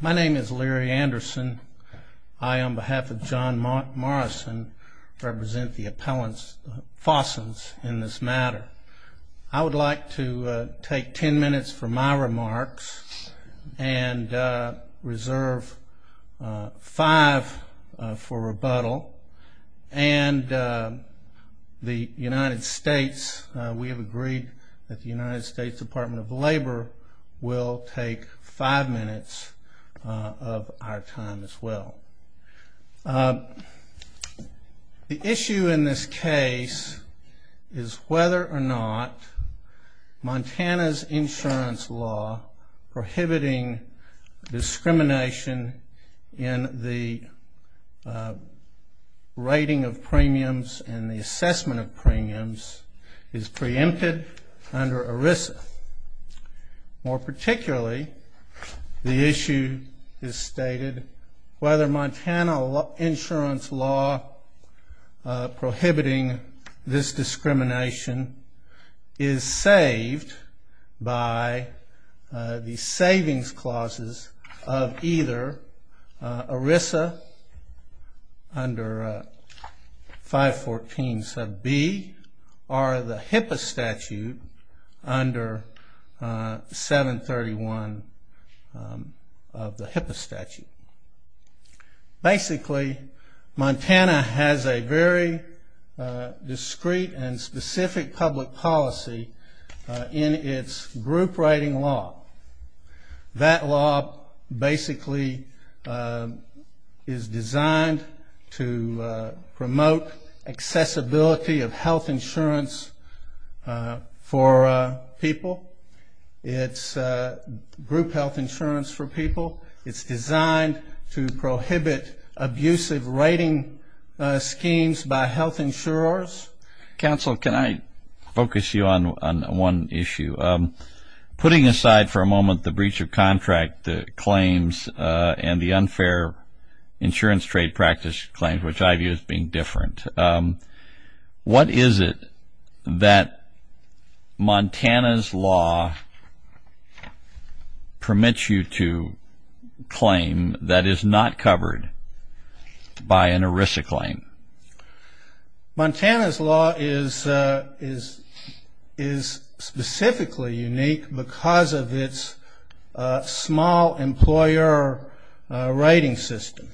My name is Larry Anderson. I, on behalf of John Morrison, represent the appellants, Fossens, in this matter. I would like to take ten minutes for my remarks and reserve five for rebuttal. And the United States, we have agreed that the United States Department of Labor will take five minutes of our time as well. The issue in this case is whether or not Montana's insurance law prohibiting discrimination in the rating of premiums and the assessment of premiums is preempted under ERISA. More particularly, the issue is stated whether Montana insurance law prohibiting this discrimination is saved by the savings clauses of either ERISA under 514 sub B or the HIPAA statute under 731 of the HIPAA statute. Basically, Montana has a very discrete and specific public policy in its group rating law. That law basically is designed to promote accessibility of health insurance for people. It's group health insurance for people. It's designed to prohibit abusive rating schemes by health insurers. Counsel, can I focus you on one issue? Putting aside for a moment the breach of contract claims and the unfair insurance trade practice claims, which I view as being different, what is it that Montana's law permits you to claim that is not covered by an ERISA claim? Montana's law is specifically unique because of its small employer rating system.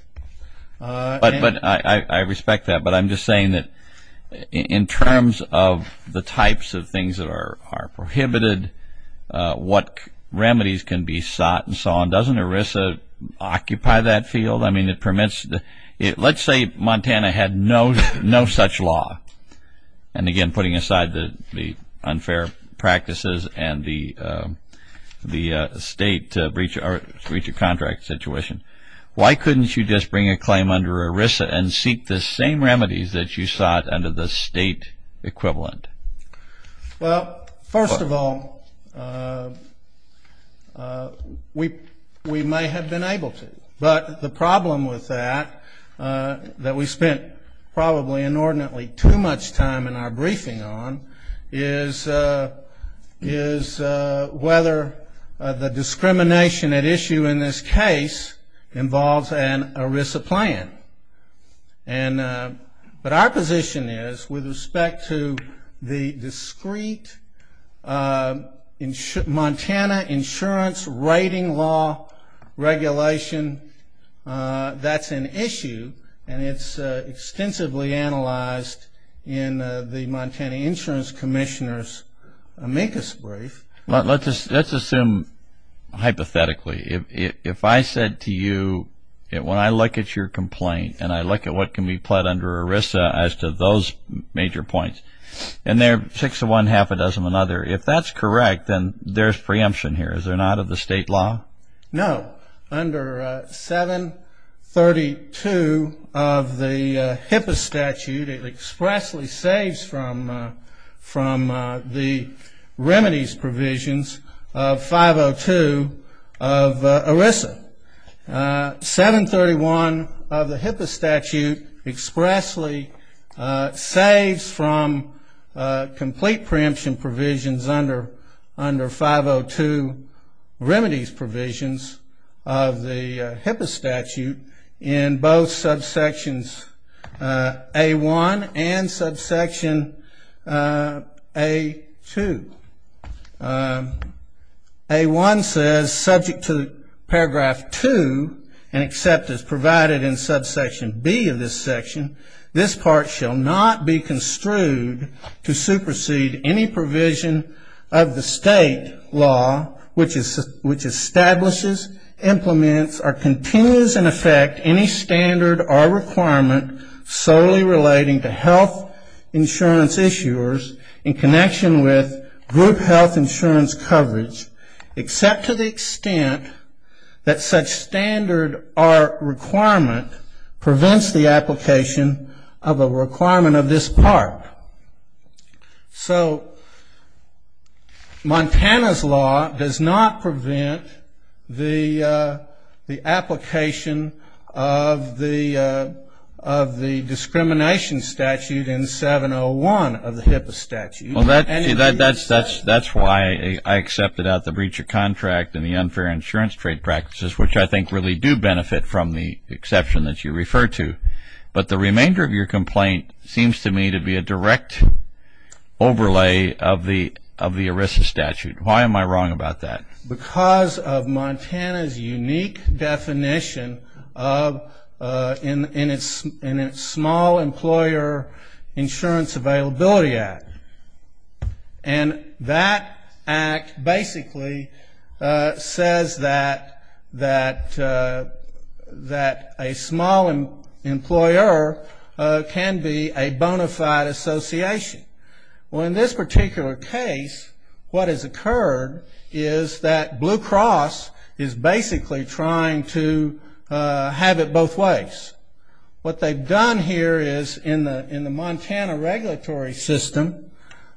I respect that, but I'm just saying that in terms of the types of things that are prohibited, what remedies can be sought and so on, doesn't ERISA occupy that field? Let's say Montana had no such law. Again, putting aside the unfair practices and the state breach of contract situation, why couldn't you just bring a claim under ERISA and seek the same remedies that you sought under the state equivalent? First of all, we might have been able to. But the problem with that, that we spent probably inordinately too much time in our briefing on, is whether the discrimination at issue in this case involves an ERISA plan. But our position is, with respect to the discrete Montana insurance rating law regulation, that's an issue, and it's extensively analyzed in the Montana Insurance Commissioner's amicus brief. Let's assume hypothetically. If I said to you, when I look at your complaint and I look at what can be pled under ERISA as to those major points, and they're six of one, half a dozen of another, if that's correct, then there's preemption here. Is there not of the state law? No. Under 732 of the HIPAA statute, it expressly saves from the remedies provisions of 502 of ERISA. 731 of the HIPAA statute expressly saves from complete preemption provisions under 502 remedies provisions of the HIPAA statute, in both subsections A1 and subsection A2. A1 says, subject to paragraph 2, and except as provided in subsection B of this section, this part shall not be construed to supersede any provision of the state law which establishes, implements, or continues in effect any standard or requirement solely relating to health insurance issuers in connection with group health insurance coverage, except to the extent that such standard or requirement prevents the application of a requirement of this part. So Montana's law does not prevent the application of the discrimination statute in 701 of the HIPAA statute. Well, that's why I accepted out the breach of contract and the unfair insurance trade practices, which I think really do benefit from the exception that you refer to. But the remainder of your complaint seems to me to be a direct overlay of the ERISA statute. Why am I wrong about that? Because of Montana's unique definition in its Small Employer Insurance Availability Act. And that act basically says that a small employer can be a bona fide association. Well, in this particular case, what has occurred is that Blue Cross is basically trying to have it both ways. What they've done here is in the Montana regulatory system,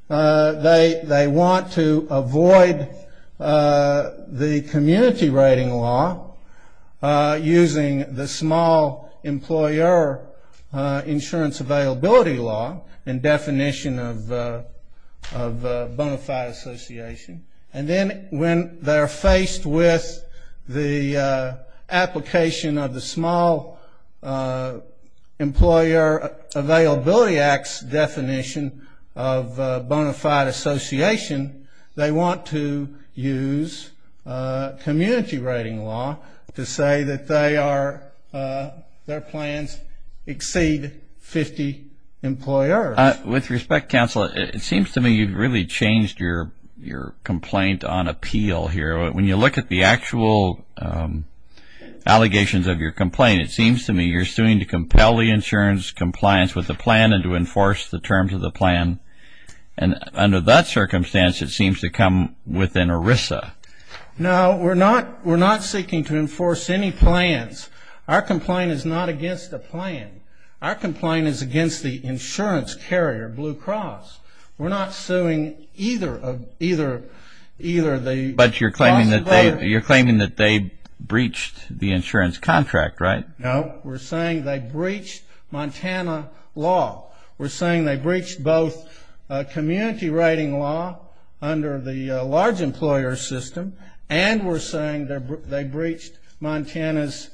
they want to avoid the community rating law using the small employer insurance availability law in definition of bona fide association. And then when they're faced with the application of the Small Employer Availability Act's definition of bona fide association, they want to use community rating law to say that their plans exceed 50 employers. With respect, counsel, it seems to me you've really changed your complaint on appeal here. When you look at the actual allegations of your complaint, it seems to me you're suing to compel the insurance compliance with the plan and to enforce the terms of the plan. And under that circumstance, it seems to come within ERISA. No, we're not seeking to enforce any plans. Our complaint is not against the plan. Our complaint is against the insurance carrier, Blue Cross. We're not suing either of either the But you're claiming that they breached the insurance contract, right? No, we're saying they breached Montana law. We're saying they breached both community rating law under the large employer system and we're saying they breached Montana's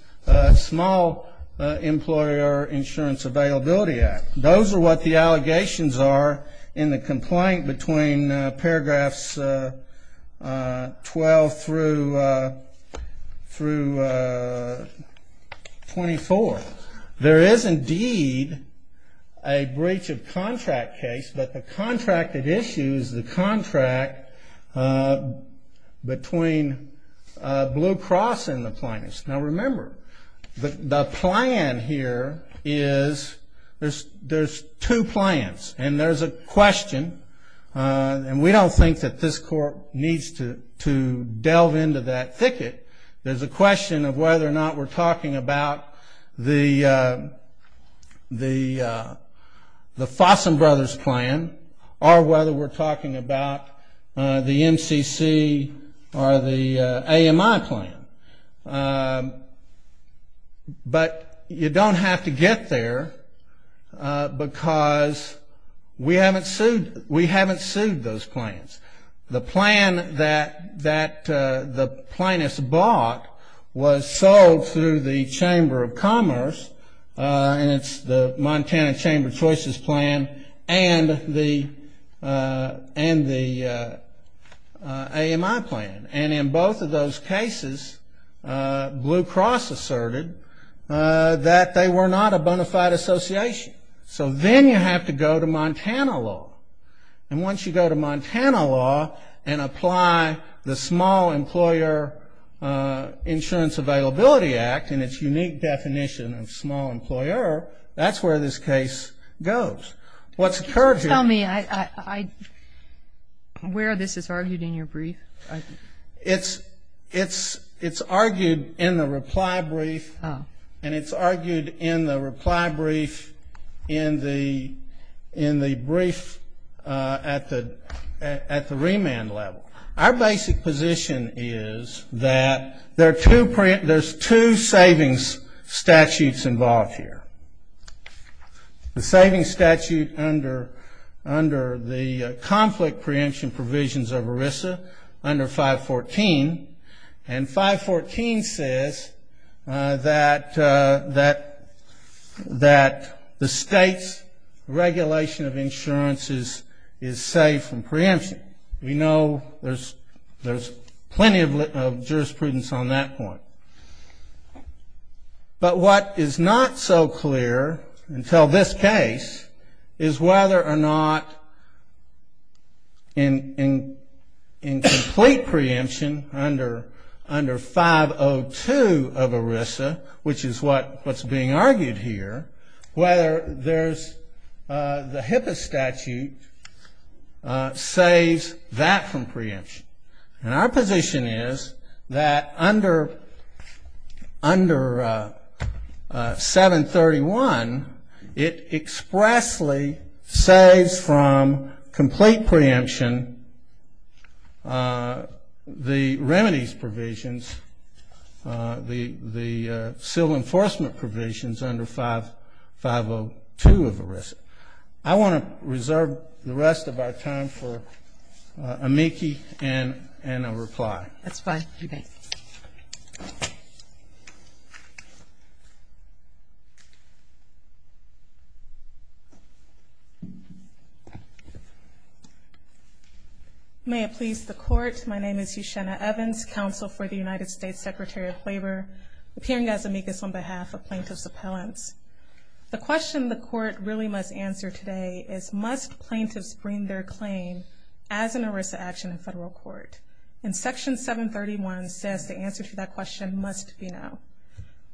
Small Employer Insurance Availability Act. Those are what the allegations are in the complaint between paragraphs 12 through 24. There is indeed a breach of contract case, but the contract that issues the contract between Blue Cross and the plaintiffs. Now, remember, the plan here is there's two plans and there's a question. And we don't think that this court needs to delve into that thicket. There's a question of whether or not we're talking about the Fossum Brothers plan or whether we're talking about the MCC or the AMI plan. But you don't have to get there because we haven't sued those plans. The plan that the plaintiffs bought was sold through the Chamber of Commerce and it's the Montana Chamber of Choices plan and the AMI plan. And in both of those cases, Blue Cross asserted that they were not a bona fide association. So then you have to go to Montana law. And once you go to Montana law and apply the Small Employer Insurance Availability Act and its unique definition of small employer, that's where this case goes. What's occurred here. Tell me where this is argued in your brief. It's argued in the reply brief. And it's argued in the reply brief in the brief at the remand level. Our basic position is that there's two savings statutes involved here. The savings statute under the conflict preemption provisions of ERISA under 514. And 514 says that the state's regulation of insurance is safe from preemption. We know there's plenty of jurisprudence on that point. But what is not so clear until this case is whether or not in complete preemption under 502 of ERISA, which is what's being argued here, whether there's the HIPAA statute saves that from preemption. And our position is that under 731, it expressly saves from complete preemption the remedies provisions, the civil enforcement provisions under 502 of ERISA. I want to reserve the rest of our time for Amiki and a reply. That's fine. May it please the Court. My name is Yashena Evans, Counsel for the United States Secretary of Labor, appearing as amicus on behalf of plaintiff's appellants. The question the Court really must answer today is, must plaintiffs bring their claim as an ERISA action in federal court? And Section 731 says the answer to that question must be no.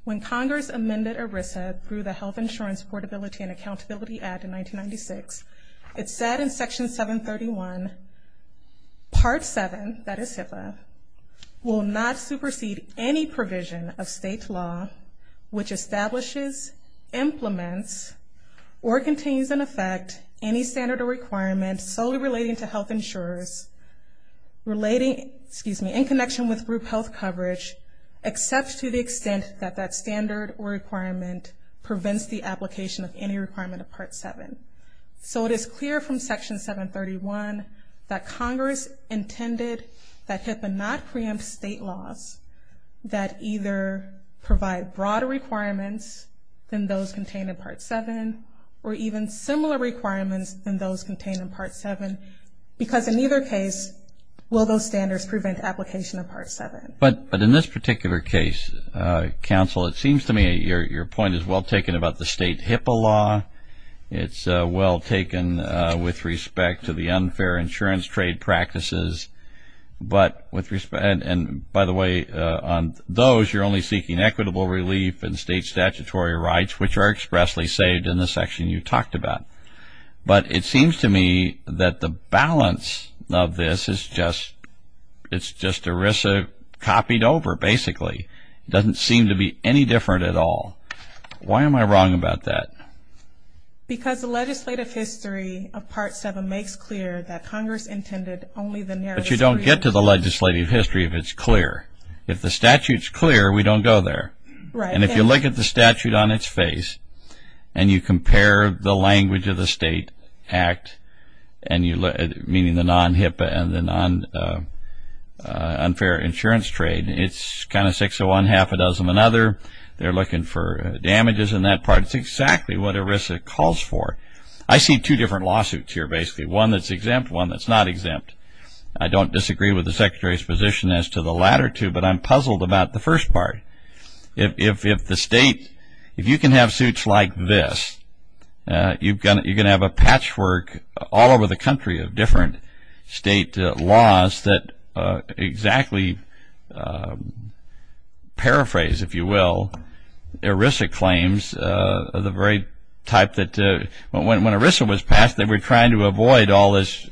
When Congress amended ERISA through the Health Insurance Portability and Accountability Act in 1996, it said in Section 731, Part 7, that is HIPAA, will not supersede any provision of state law which establishes, implements, or continues in effect any standard or requirement solely relating to health insurers, relating, excuse me, in connection with group health coverage, except to the extent that that standard or requirement prevents the application of any requirement of Part 7. So it is clear from Section 731 that Congress intended that HIPAA not preempt state laws that either provide broader requirements than those contained in Part 7, or even similar requirements than those contained in Part 7, because in either case will those standards prevent application of Part 7. But in this particular case, Counsel, it seems to me your point is well taken about the state HIPAA law. It's well taken with respect to the unfair insurance trade practices. And by the way, on those you're only seeking equitable relief and state statutory rights, which are expressly saved in the section you talked about. But it seems to me that the balance of this is just ERISA copied over basically. It doesn't seem to be any different at all. Why am I wrong about that? Because the legislative history of Part 7 makes clear that Congress intended only the narrative... But you don't get to the legislative history if it's clear. If the statute's clear, we don't go there. And if you look at the statute on its face, and you compare the language of the state act, meaning the non-HIPAA and the non-unfair insurance trade, it's kind of six of one, half a dozen another. They're looking for damages in that part. It's exactly what ERISA calls for. I see two different lawsuits here basically, one that's exempt, one that's not exempt. I don't disagree with the Secretary's position as to the latter two, but I'm puzzled about the first part. If you can have suits like this, you're going to have a patchwork all over the country of different state laws that exactly paraphrase, if you will, ERISA claims of the very type that... When ERISA was passed, they were trying to avoid all this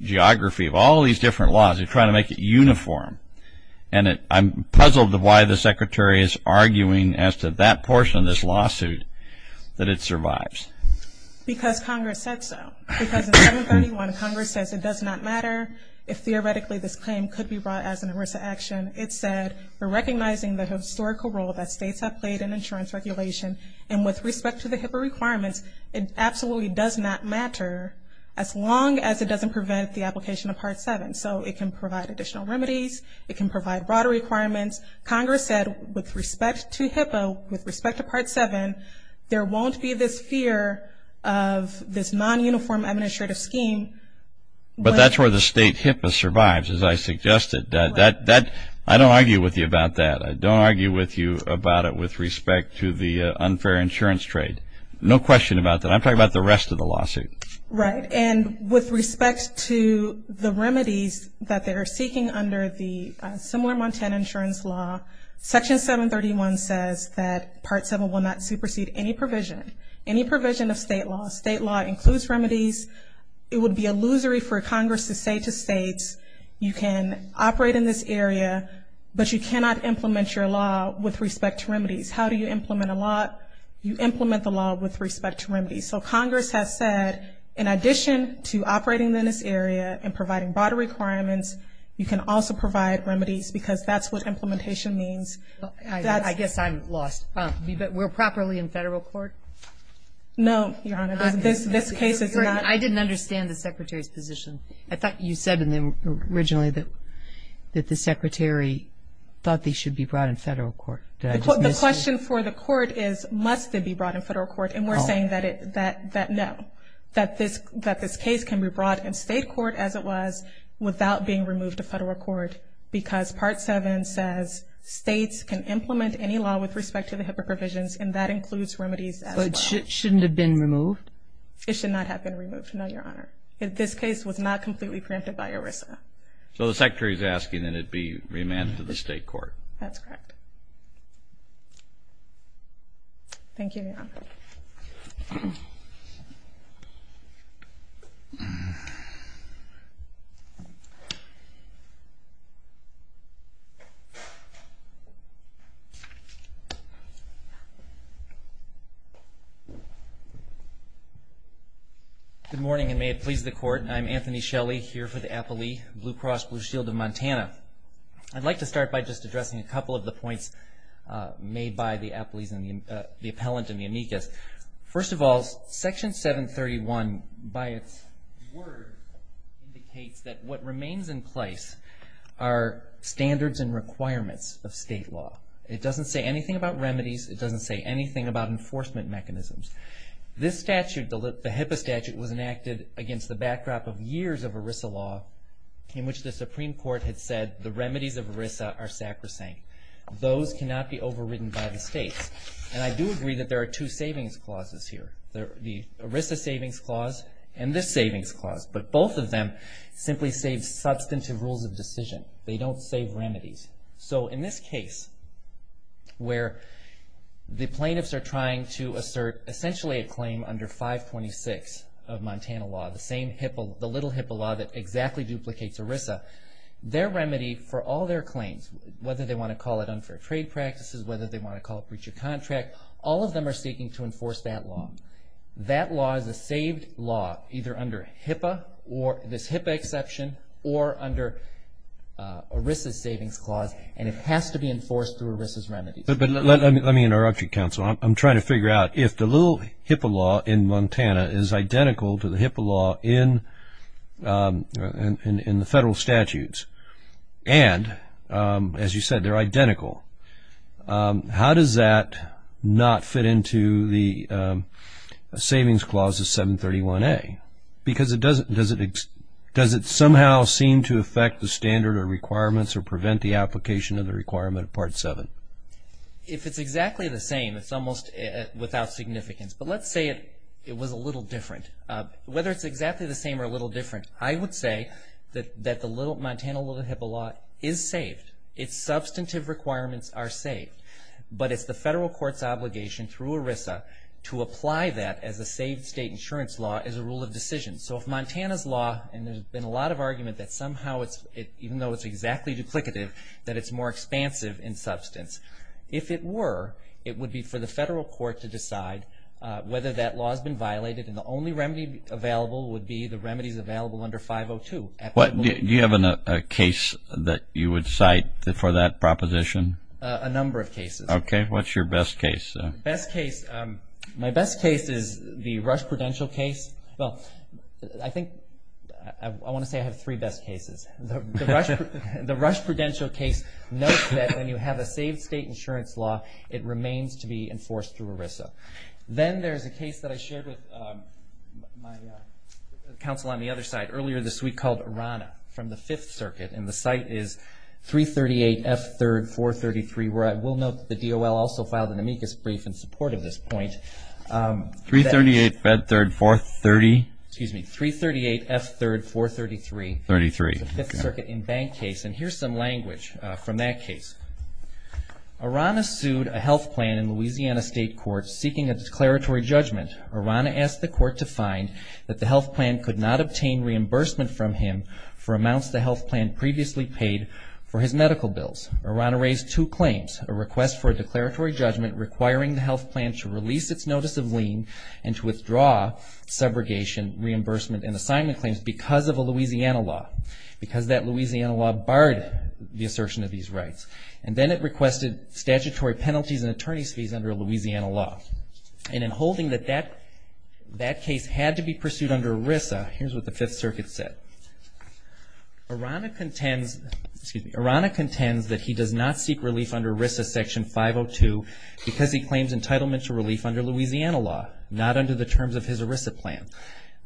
geography of all these different laws. They were trying to make it uniform. And I'm puzzled why the Secretary is arguing as to that portion of this lawsuit that it survives. Because Congress said so. Because in 731, Congress says it does not matter if theoretically this claim could be brought as an ERISA action. It said, we're recognizing the historical role that states have played in insurance regulation, and with respect to the HIPAA requirements, it absolutely does not matter, as long as it doesn't prevent the application of Part 7. So it can provide additional remedies. It can provide broader requirements. Congress said with respect to HIPAA, with respect to Part 7, there won't be this fear of this non-uniform administrative scheme. But that's where the state HIPAA survives, as I suggested. I don't argue with you about that. I don't argue with you about it with respect to the unfair insurance trade. No question about that. I'm talking about the rest of the lawsuit. Right. And with respect to the remedies that they are seeking under the similar Montana insurance law, Section 731 says that Part 7 will not supersede any provision, any provision of state law. State law includes remedies. It would be illusory for Congress to say to states, you can operate in this area, but you cannot implement your law with respect to remedies. How do you implement a law? You implement the law with respect to remedies. So Congress has said, in addition to operating in this area and providing broader requirements, you can also provide remedies, because that's what implementation means. I guess I'm lost. We're properly in federal court? No, Your Honor, this case is not. I didn't understand the Secretary's position. I thought you said originally that the Secretary thought they should be brought in federal court. The question for the court is, must they be brought in federal court? And we're saying that no, that this case can be brought in state court as it was without being removed to federal court, because Part 7 says states can implement any law with respect to the HIPAA provisions, and that includes remedies as well. But it shouldn't have been removed? It should not have been removed, no, Your Honor. This case was not completely preempted by ERISA. So the Secretary is asking that it be remanded to the state court. That's correct. Thank you, Your Honor. Good morning, and may it please the Court, I'm Anthony Shelley, here for the Applee Blue Cross Blue Shield of Montana. I'd like to start by just addressing a couple of the points made by the appellant in the amicus. First of all, Section 731, by its word, indicates that what remains in place are standards and requirements of state law. It doesn't say anything about remedies. It doesn't say anything about enforcement mechanisms. This statute, the HIPAA statute, was enacted against the backdrop of years of ERISA law in which the Supreme Court had said the remedies of ERISA are sacrosanct. Those cannot be overridden by the states. And I do agree that there are two savings clauses here, the ERISA savings clause and this savings clause. But both of them simply save substantive rules of decision. They don't save remedies. So in this case, where the plaintiffs are trying to assert essentially a claim under 526 of Montana law, the same HIPAA, the little HIPAA law that exactly duplicates ERISA, their remedy for all their claims, whether they want to call it unfair trade practices, whether they want to call it breach of contract, all of them are seeking to enforce that law. That law is a saved law either under HIPAA or this HIPAA exception or under ERISA's savings clause, and it has to be enforced through ERISA's remedies. But let me interrupt you, counsel. I'm trying to figure out if the little HIPAA law in Montana is identical to the HIPAA law in the federal statutes and, as you said, they're identical, how does that not fit into the savings clause of 731A? Because does it somehow seem to affect the standard or requirements or prevent the application of the requirement of Part 7? If it's exactly the same, it's almost without significance. But let's say it was a little different. Whether it's exactly the same or a little different, I would say that the Montana little HIPAA law is saved. Its substantive requirements are saved, but it's the federal court's obligation through ERISA to apply that as a saved state insurance law as a rule of decision. So if Montana's law, and there's been a lot of argument that somehow, even though it's exactly duplicative, that it's more expansive in substance. If it were, it would be for the federal court to decide whether that law has been violated and the only remedy available would be the remedies available under 502. Do you have a case that you would cite for that proposition? A number of cases. Okay. What's your best case? My best case is the Rush Prudential case. Well, I think I want to say I have three best cases. The Rush Prudential case notes that when you have a saved state insurance law, it remains to be enforced through ERISA. Then there's a case that I shared with my counsel on the other side earlier this week called Orana, from the Fifth Circuit, and the site is 338 F. 3rd 433, where I will note that the DOL also filed an amicus brief in support of this point. 338 F. 3rd 430? Excuse me. 338 F. 3rd 433. 33. It's the Fifth Circuit in-bank case, and here's some language from that case. Orana sued a health plan in Louisiana state court seeking a declaratory judgment. Orana asked the court to find that the health plan could not obtain reimbursement from him for amounts the health plan previously paid for his medical bills. Orana raised two claims, a request for a declaratory judgment requiring the health plan to release its notice of lien and to withdraw subrogation, reimbursement, and assignment claims because of a Louisiana law, because that Louisiana law barred the assertion of these rights. And then it requested statutory penalties and attorney's fees under a Louisiana law. And in holding that that case had to be pursued under ERISA, here's what the Fifth Circuit said. Orana contends that he does not seek relief under ERISA Section 502 because he claims entitlement to relief under Louisiana law, not under the terms of his ERISA plan.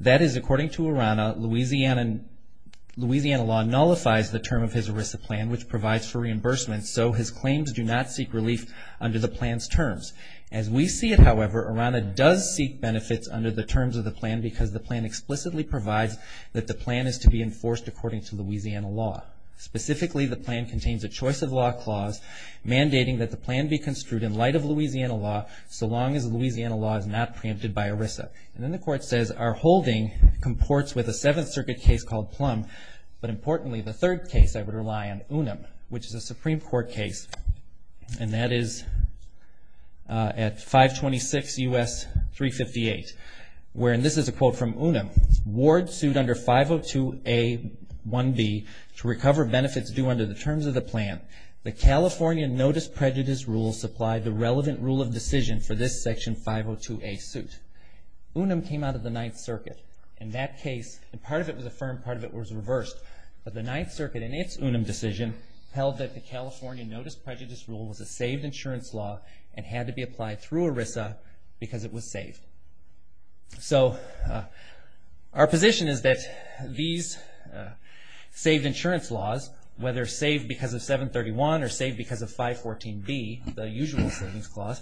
That is, according to Orana, Louisiana law nullifies the term of his ERISA plan, which provides for reimbursement, so his claims do not seek relief under the plan's terms. As we see it, however, Orana does seek benefits under the terms of the plan because the plan explicitly provides that the plan is to be enforced according to Louisiana law. Specifically, the plan contains a choice of law clause mandating that the plan be construed in light of Louisiana law so long as Louisiana law is not preempted by ERISA. And then the court says, Our holding comports with a Seventh Circuit case called Plum, but importantly, the third case I would rely on, Unum, which is a Supreme Court case. And that is at 526 U.S. 358, where, and this is a quote from Unum, Ward sued under 502A.1b to recover benefits due under the terms of the plan. The California Notice Prejudice Rule supplied the relevant rule of decision for this Section 502A suit. Unum came out of the Ninth Circuit. In that case, and part of it was affirmed, part of it was reversed, but the Ninth Circuit, in its Unum decision, held that the California Notice Prejudice Rule was a saved insurance law and had to be applied through ERISA because it was saved. So, our position is that these saved insurance laws, whether saved because of 731 or saved because of 514B, the usual savings clause,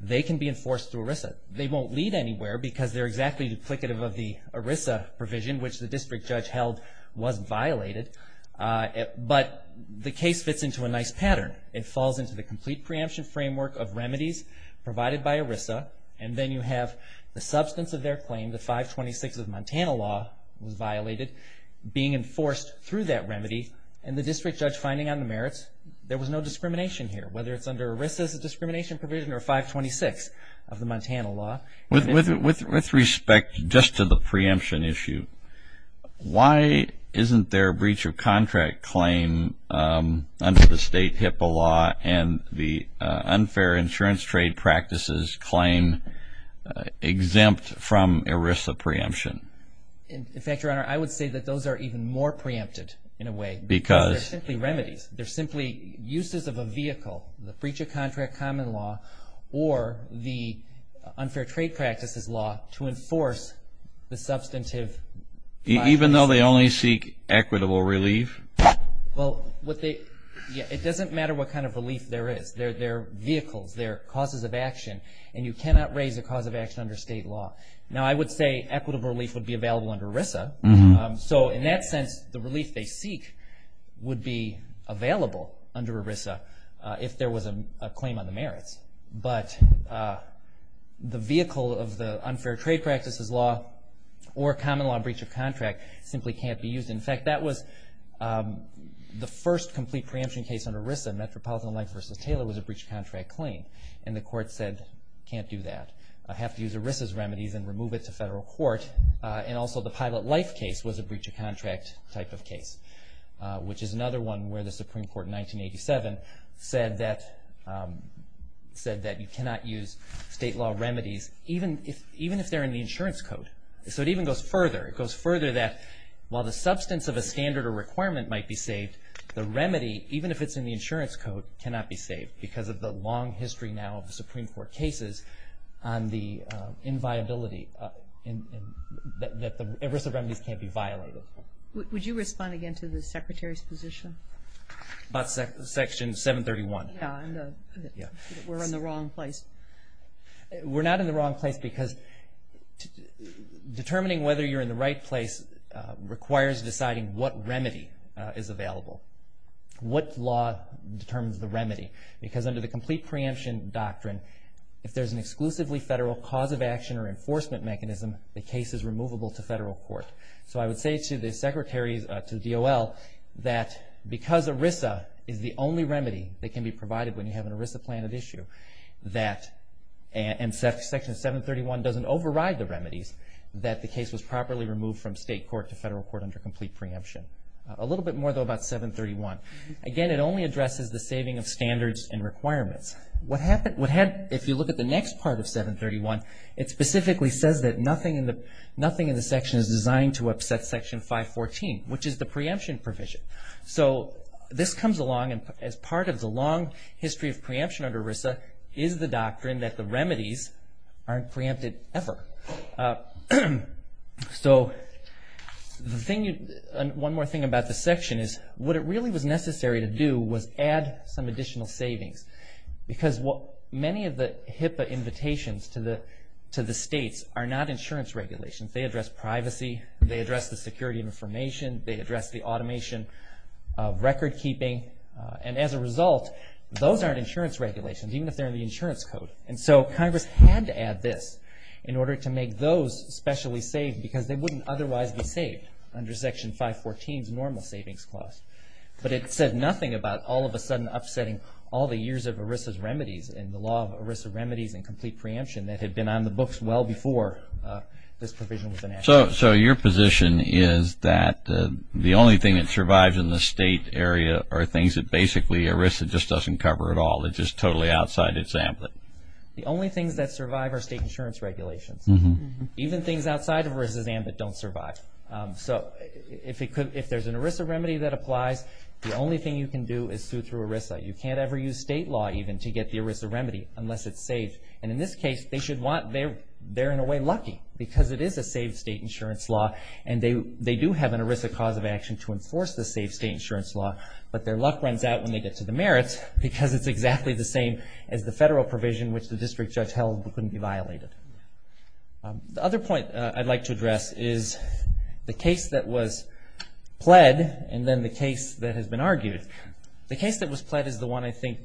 they can be enforced through ERISA. They won't lead anywhere because they're exactly duplicative of the ERISA provision, which the district judge held was violated. But the case fits into a nice pattern. It falls into the complete preemption framework of remedies provided by ERISA, and then you have the substance of their claim, the 526 of Montana law, was violated being enforced through that remedy, and the district judge finding on the merits there was no discrimination here, whether it's under ERISA's discrimination provision or 526 of the Montana law. With respect just to the preemption issue, why isn't their breach of contract claim under the state HIPAA law and the unfair insurance trade practices claim exempt from ERISA preemption? In fact, Your Honor, I would say that those are even more preempted in a way. Because? Because they're simply remedies. They're simply uses of a vehicle, the breach of contract common law, or the unfair trade practices law to enforce the substantive. Even though they only seek equitable relief? Well, it doesn't matter what kind of relief there is. They're vehicles. They're causes of action, and you cannot raise a cause of action under state law. Now, I would say equitable relief would be available under ERISA. So in that sense, the relief they seek would be available under ERISA if there was a claim on the merits. But the vehicle of the unfair trade practices law or common law breach of contract simply can't be used. In fact, that was the first complete preemption case under ERISA, Metropolitan Life v. Taylor, was a breach of contract claim. And the court said, can't do that. I have to use ERISA's remedies and remove it to federal court. And also the Pilot Life case was a breach of contract type of case, which is another one where the Supreme Court in 1987 said that you cannot use state law remedies even if they're in the insurance code. So it even goes further. It goes further that while the substance of a standard or requirement might be saved, the remedy, even if it's in the insurance code, cannot be saved. Because of the long history now of the Supreme Court cases on the inviolability that the ERISA remedies can't be violated. Would you respond again to the Secretary's position? About Section 731. Yeah. We're in the wrong place. We're not in the wrong place because determining whether you're in the right place requires deciding what remedy is available. What law determines the remedy? Because under the complete preemption doctrine, if there's an exclusively federal cause of action or enforcement mechanism, the case is removable to federal court. So I would say to the Secretary, to DOL, that because ERISA is the only remedy that can be provided when you have an ERISA plan at issue, and Section 731 doesn't override the remedies, that the case was properly removed from state court to federal court under complete preemption. A little bit more, though, about 731. Again, it only addresses the saving of standards and requirements. If you look at the next part of 731, it specifically says that nothing in the section is designed to upset Section 514, which is the preemption provision. So this comes along as part of the long history of preemption under ERISA is the doctrine that the remedies aren't preempted ever. So one more thing about this section is what it really was necessary to do was add some additional savings. Because many of the HIPAA invitations to the states are not insurance regulations. They address privacy. They address the security of information. They address the automation of record keeping. And as a result, those aren't insurance regulations, even if they're in the insurance code. And so Congress had to add this in order to make those specially saved because they wouldn't otherwise be saved under Section 514's normal savings clause. But it said nothing about all of a sudden upsetting all the years of ERISA's remedies and the law of ERISA remedies and complete preemption that had been on the books well before this provision was enacted. So your position is that the only thing that survives in the state area are things that basically ERISA just doesn't cover at all. It's just totally outside its ambit. The only things that survive are state insurance regulations. Even things outside of ERISA's ambit don't survive. So if there's an ERISA remedy that applies, the only thing you can do is sue through ERISA. You can't ever use state law even to get the ERISA remedy unless it's saved. And in this case, they're in a way lucky because it is a saved state insurance law. And they do have an ERISA cause of action to enforce the saved state insurance law, but their luck runs out when they get to the merits because it's exactly the same as the federal provision which the district judge held couldn't be violated. The other point I'd like to address is the case that was pled and then the case that has been argued. The case that was pled is the one I think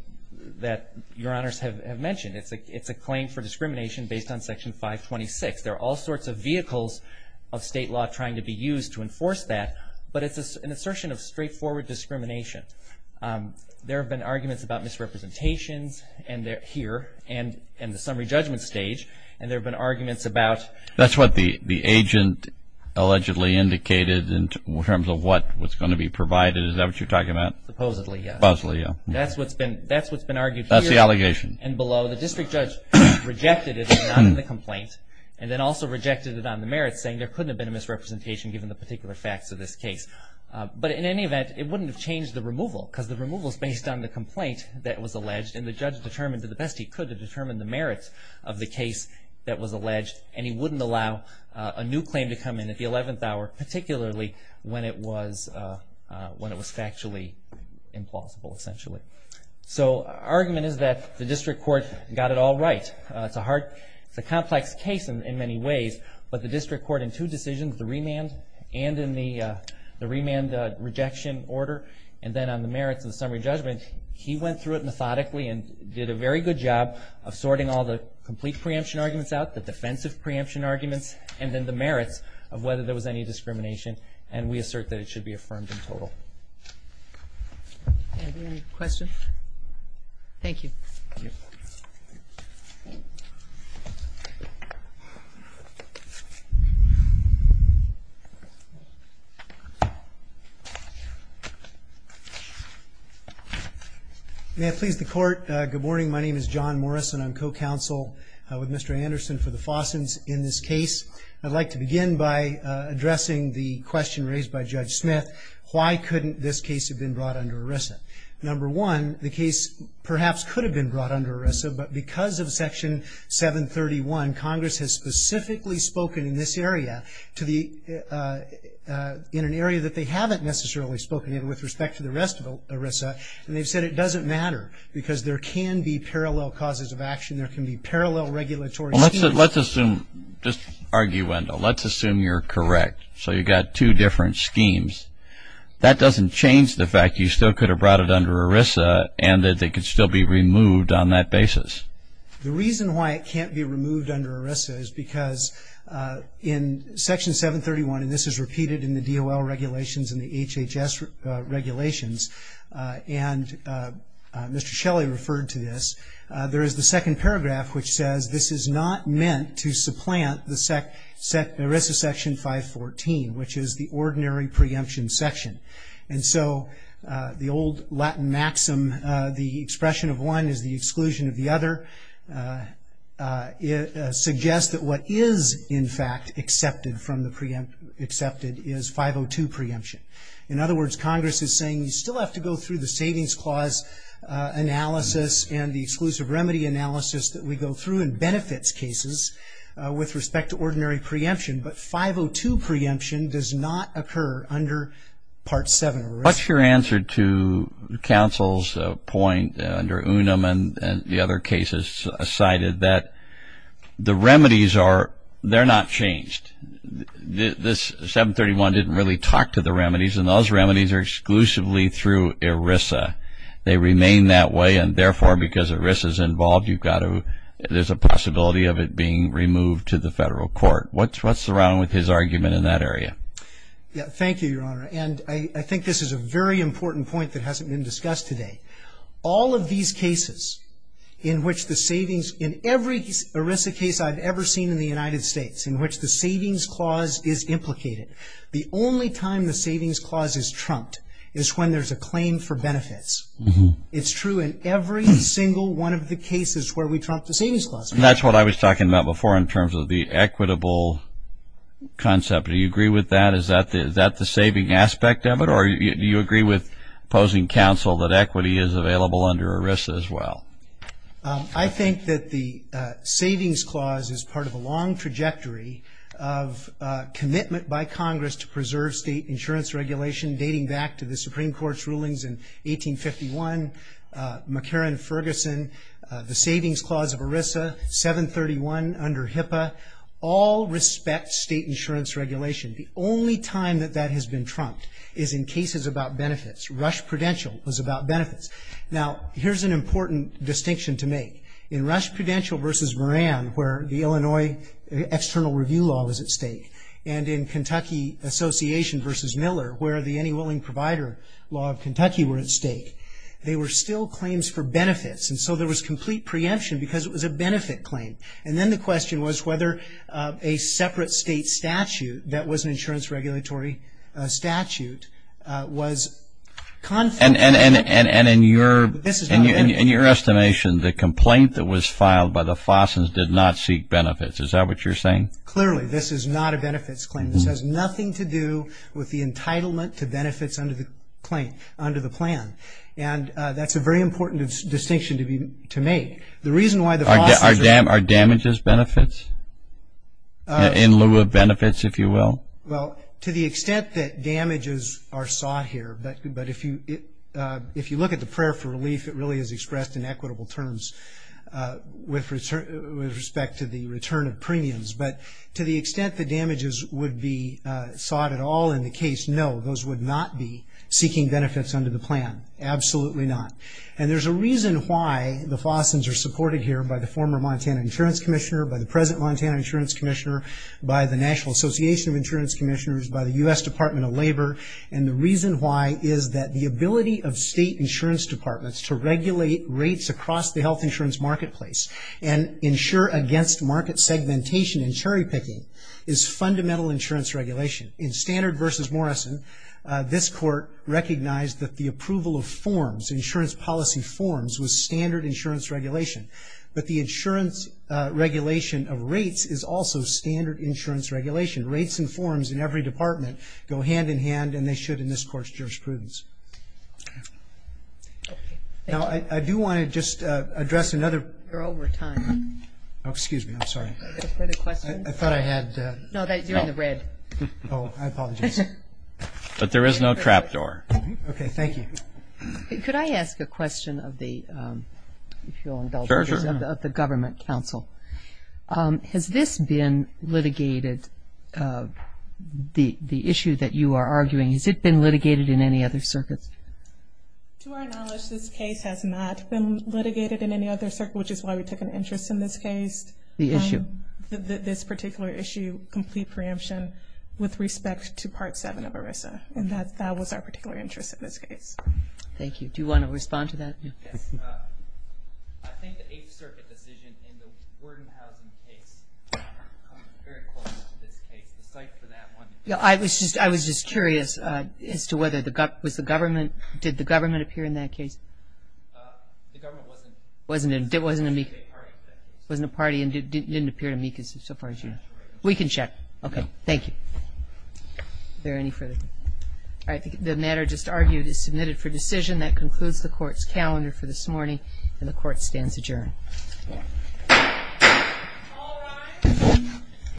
that your honors have mentioned. It's a claim for discrimination based on Section 526. There are all sorts of vehicles of state law trying to be used to enforce that, but it's an assertion of straightforward discrimination. There have been arguments about misrepresentations here and the summary judgment stage, and there have been arguments about... That's what the agent allegedly indicated in terms of what was going to be provided. Is that what you're talking about? Supposedly, yeah. Supposedly, yeah. That's what's been argued here... That's the allegation. ...and below. The district judge rejected it in the complaint and then also rejected it on the merits saying there couldn't have been a misrepresentation given the particular facts of this case. But in any event, it wouldn't have changed the removal because the removal is based on the complaint that was alleged and the judge determined that the best he could to determine the merits of the case that was alleged and he wouldn't allow a new claim to come in at the 11th hour, particularly when it was factually implausible, essentially. So the argument is that the district court got it all right. It's a complex case in many ways, but the district court in two decisions, including the remand and in the remand rejection order and then on the merits of the summary judgment, he went through it methodically and did a very good job of sorting all the complete preemption arguments out, the defensive preemption arguments, and then the merits of whether there was any discrimination, and we assert that it should be affirmed in total. Any other questions? Thank you. May I please the court? Good morning. My name is John Morrison. I'm co-counsel with Mr. Anderson for the Fossins in this case. I'd like to begin by addressing the question raised by Judge Smith, why couldn't this case have been brought under ERISA? Number one, the case perhaps could have been brought under ERISA, but because of Section 731, Congress has specifically spoken in this area in an area that they haven't necessarily spoken in with respect to the rest of ERISA, and they've said it doesn't matter because there can be parallel causes of action, there can be parallel regulatory schemes. Well, let's assume, just argue, Wendell, let's assume you're correct. So you've got two different schemes. That doesn't change the fact you still could have brought it under ERISA and that it could still be removed on that basis. The reason why it can't be removed under ERISA is because in Section 731, and this is repeated in the DOL regulations and the HHS regulations, and Mr. Shelley referred to this, there is the second paragraph which says, this is not meant to supplant the ERISA Section 514, which is the ordinary preemption section. And so the old Latin maxim, the expression of one is the exclusion of the other, suggests that what is in fact accepted is 502 preemption. In other words, Congress is saying you still have to go through the Savings Clause analysis and the exclusive remedy analysis that we go through in benefits cases with respect to ordinary preemption, but 502 preemption does not occur under Part 7 of ERISA. What's your answer to counsel's point under Unum and the other cases cited that the remedies are, they're not changed. This 731 didn't really talk to the remedies, and those remedies are exclusively through ERISA. They remain that way, and therefore, because ERISA is involved, you've got to, there's a possibility of it being removed to the federal court. What's around with his argument in that area? Thank you, Your Honor. And I think this is a very important point that hasn't been discussed today. All of these cases in which the savings, in every ERISA case I've ever seen in the United States in which the Savings Clause is implicated, the only time the Savings Clause is trumped is when there's a claim for benefits. It's true in every single one of the cases where we trump the Savings Clause. That's what I was talking about before in terms of the equitable concept. Do you agree with that? Is that the saving aspect of it, or do you agree with opposing counsel that equity is available under ERISA as well? I think that the Savings Clause is part of a long trajectory of commitment by Congress to preserve state insurance regulation dating back to the Supreme Court's rulings in 1851. McCarran-Ferguson, the Savings Clause of ERISA, 731 under HIPAA, all respect state insurance regulation. The only time that that has been trumped is in cases about benefits. Rush Prudential was about benefits. Now, here's an important distinction to make. In Rush Prudential v. Moran where the Illinois External Review Law was at stake and in Kentucky Association v. Miller where the Any Willing Provider Law of Kentucky were at stake, they were still claims for benefits. And so there was complete preemption because it was a benefit claim. And then the question was whether a separate state statute that was an insurance regulatory statute was conflict- And in your estimation, the complaint that was filed by the Fossens did not seek benefits. Is that what you're saying? Clearly, this is not a benefits claim. This has nothing to do with the entitlement to benefits under the plan. And that's a very important distinction to make. The reason why the Fossens- Are damages benefits in lieu of benefits, if you will? Well, to the extent that damages are sought here, but if you look at the prayer for relief, it really is expressed in equitable terms with respect to the return of premiums. But to the extent that damages would be sought at all in the case, no, those would not be seeking benefits under the plan, absolutely not. And there's a reason why the Fossens are supported here by the former Montana Insurance Commissioner, by the present Montana Insurance Commissioner, by the National Association of Insurance Commissioners, by the U.S. Department of Labor. And the reason why is that the ability of state insurance departments to regulate rates across the health insurance marketplace and insure against market segmentation and cherry-picking is fundamental insurance regulation. In Standard v. Morrison, this court recognized that the approval of forms, insurance policy forms, was standard insurance regulation. But the insurance regulation of rates is also standard insurance regulation. Rates and forms in every department go hand-in-hand and they should in this court's jurisprudence. Now, I do want to just address another- You're over time. Oh, excuse me, I'm sorry. Further questions? I thought I had- No, you're in the red. Oh, I apologize. But there is no trap door. Okay, thank you. Could I ask a question of the- Sure, sure. Of the government counsel? Has this been litigated, the issue that you are arguing, has it been litigated in any other circuits? To our knowledge, this case has not been litigated in any other circuit, which is why we took an interest in this case. The issue? This particular issue, complete preemption with respect to Part 7 of ERISA, and that was our particular interest in this case. Thank you. Do you want to respond to that? Yes. I think the Eighth Circuit decision in the Worden housing case comes very close to this case. The site for that one- Yeah, I was just curious as to whether the government- Did the government appear in that case? The government wasn't- It wasn't a party and didn't appear to me so far as you know. We can check. Okay, thank you. Is there any further- All right, the matter just argued is submitted for decision. That concludes the Court's calendar for this morning, and the Court stands adjourned. All rise.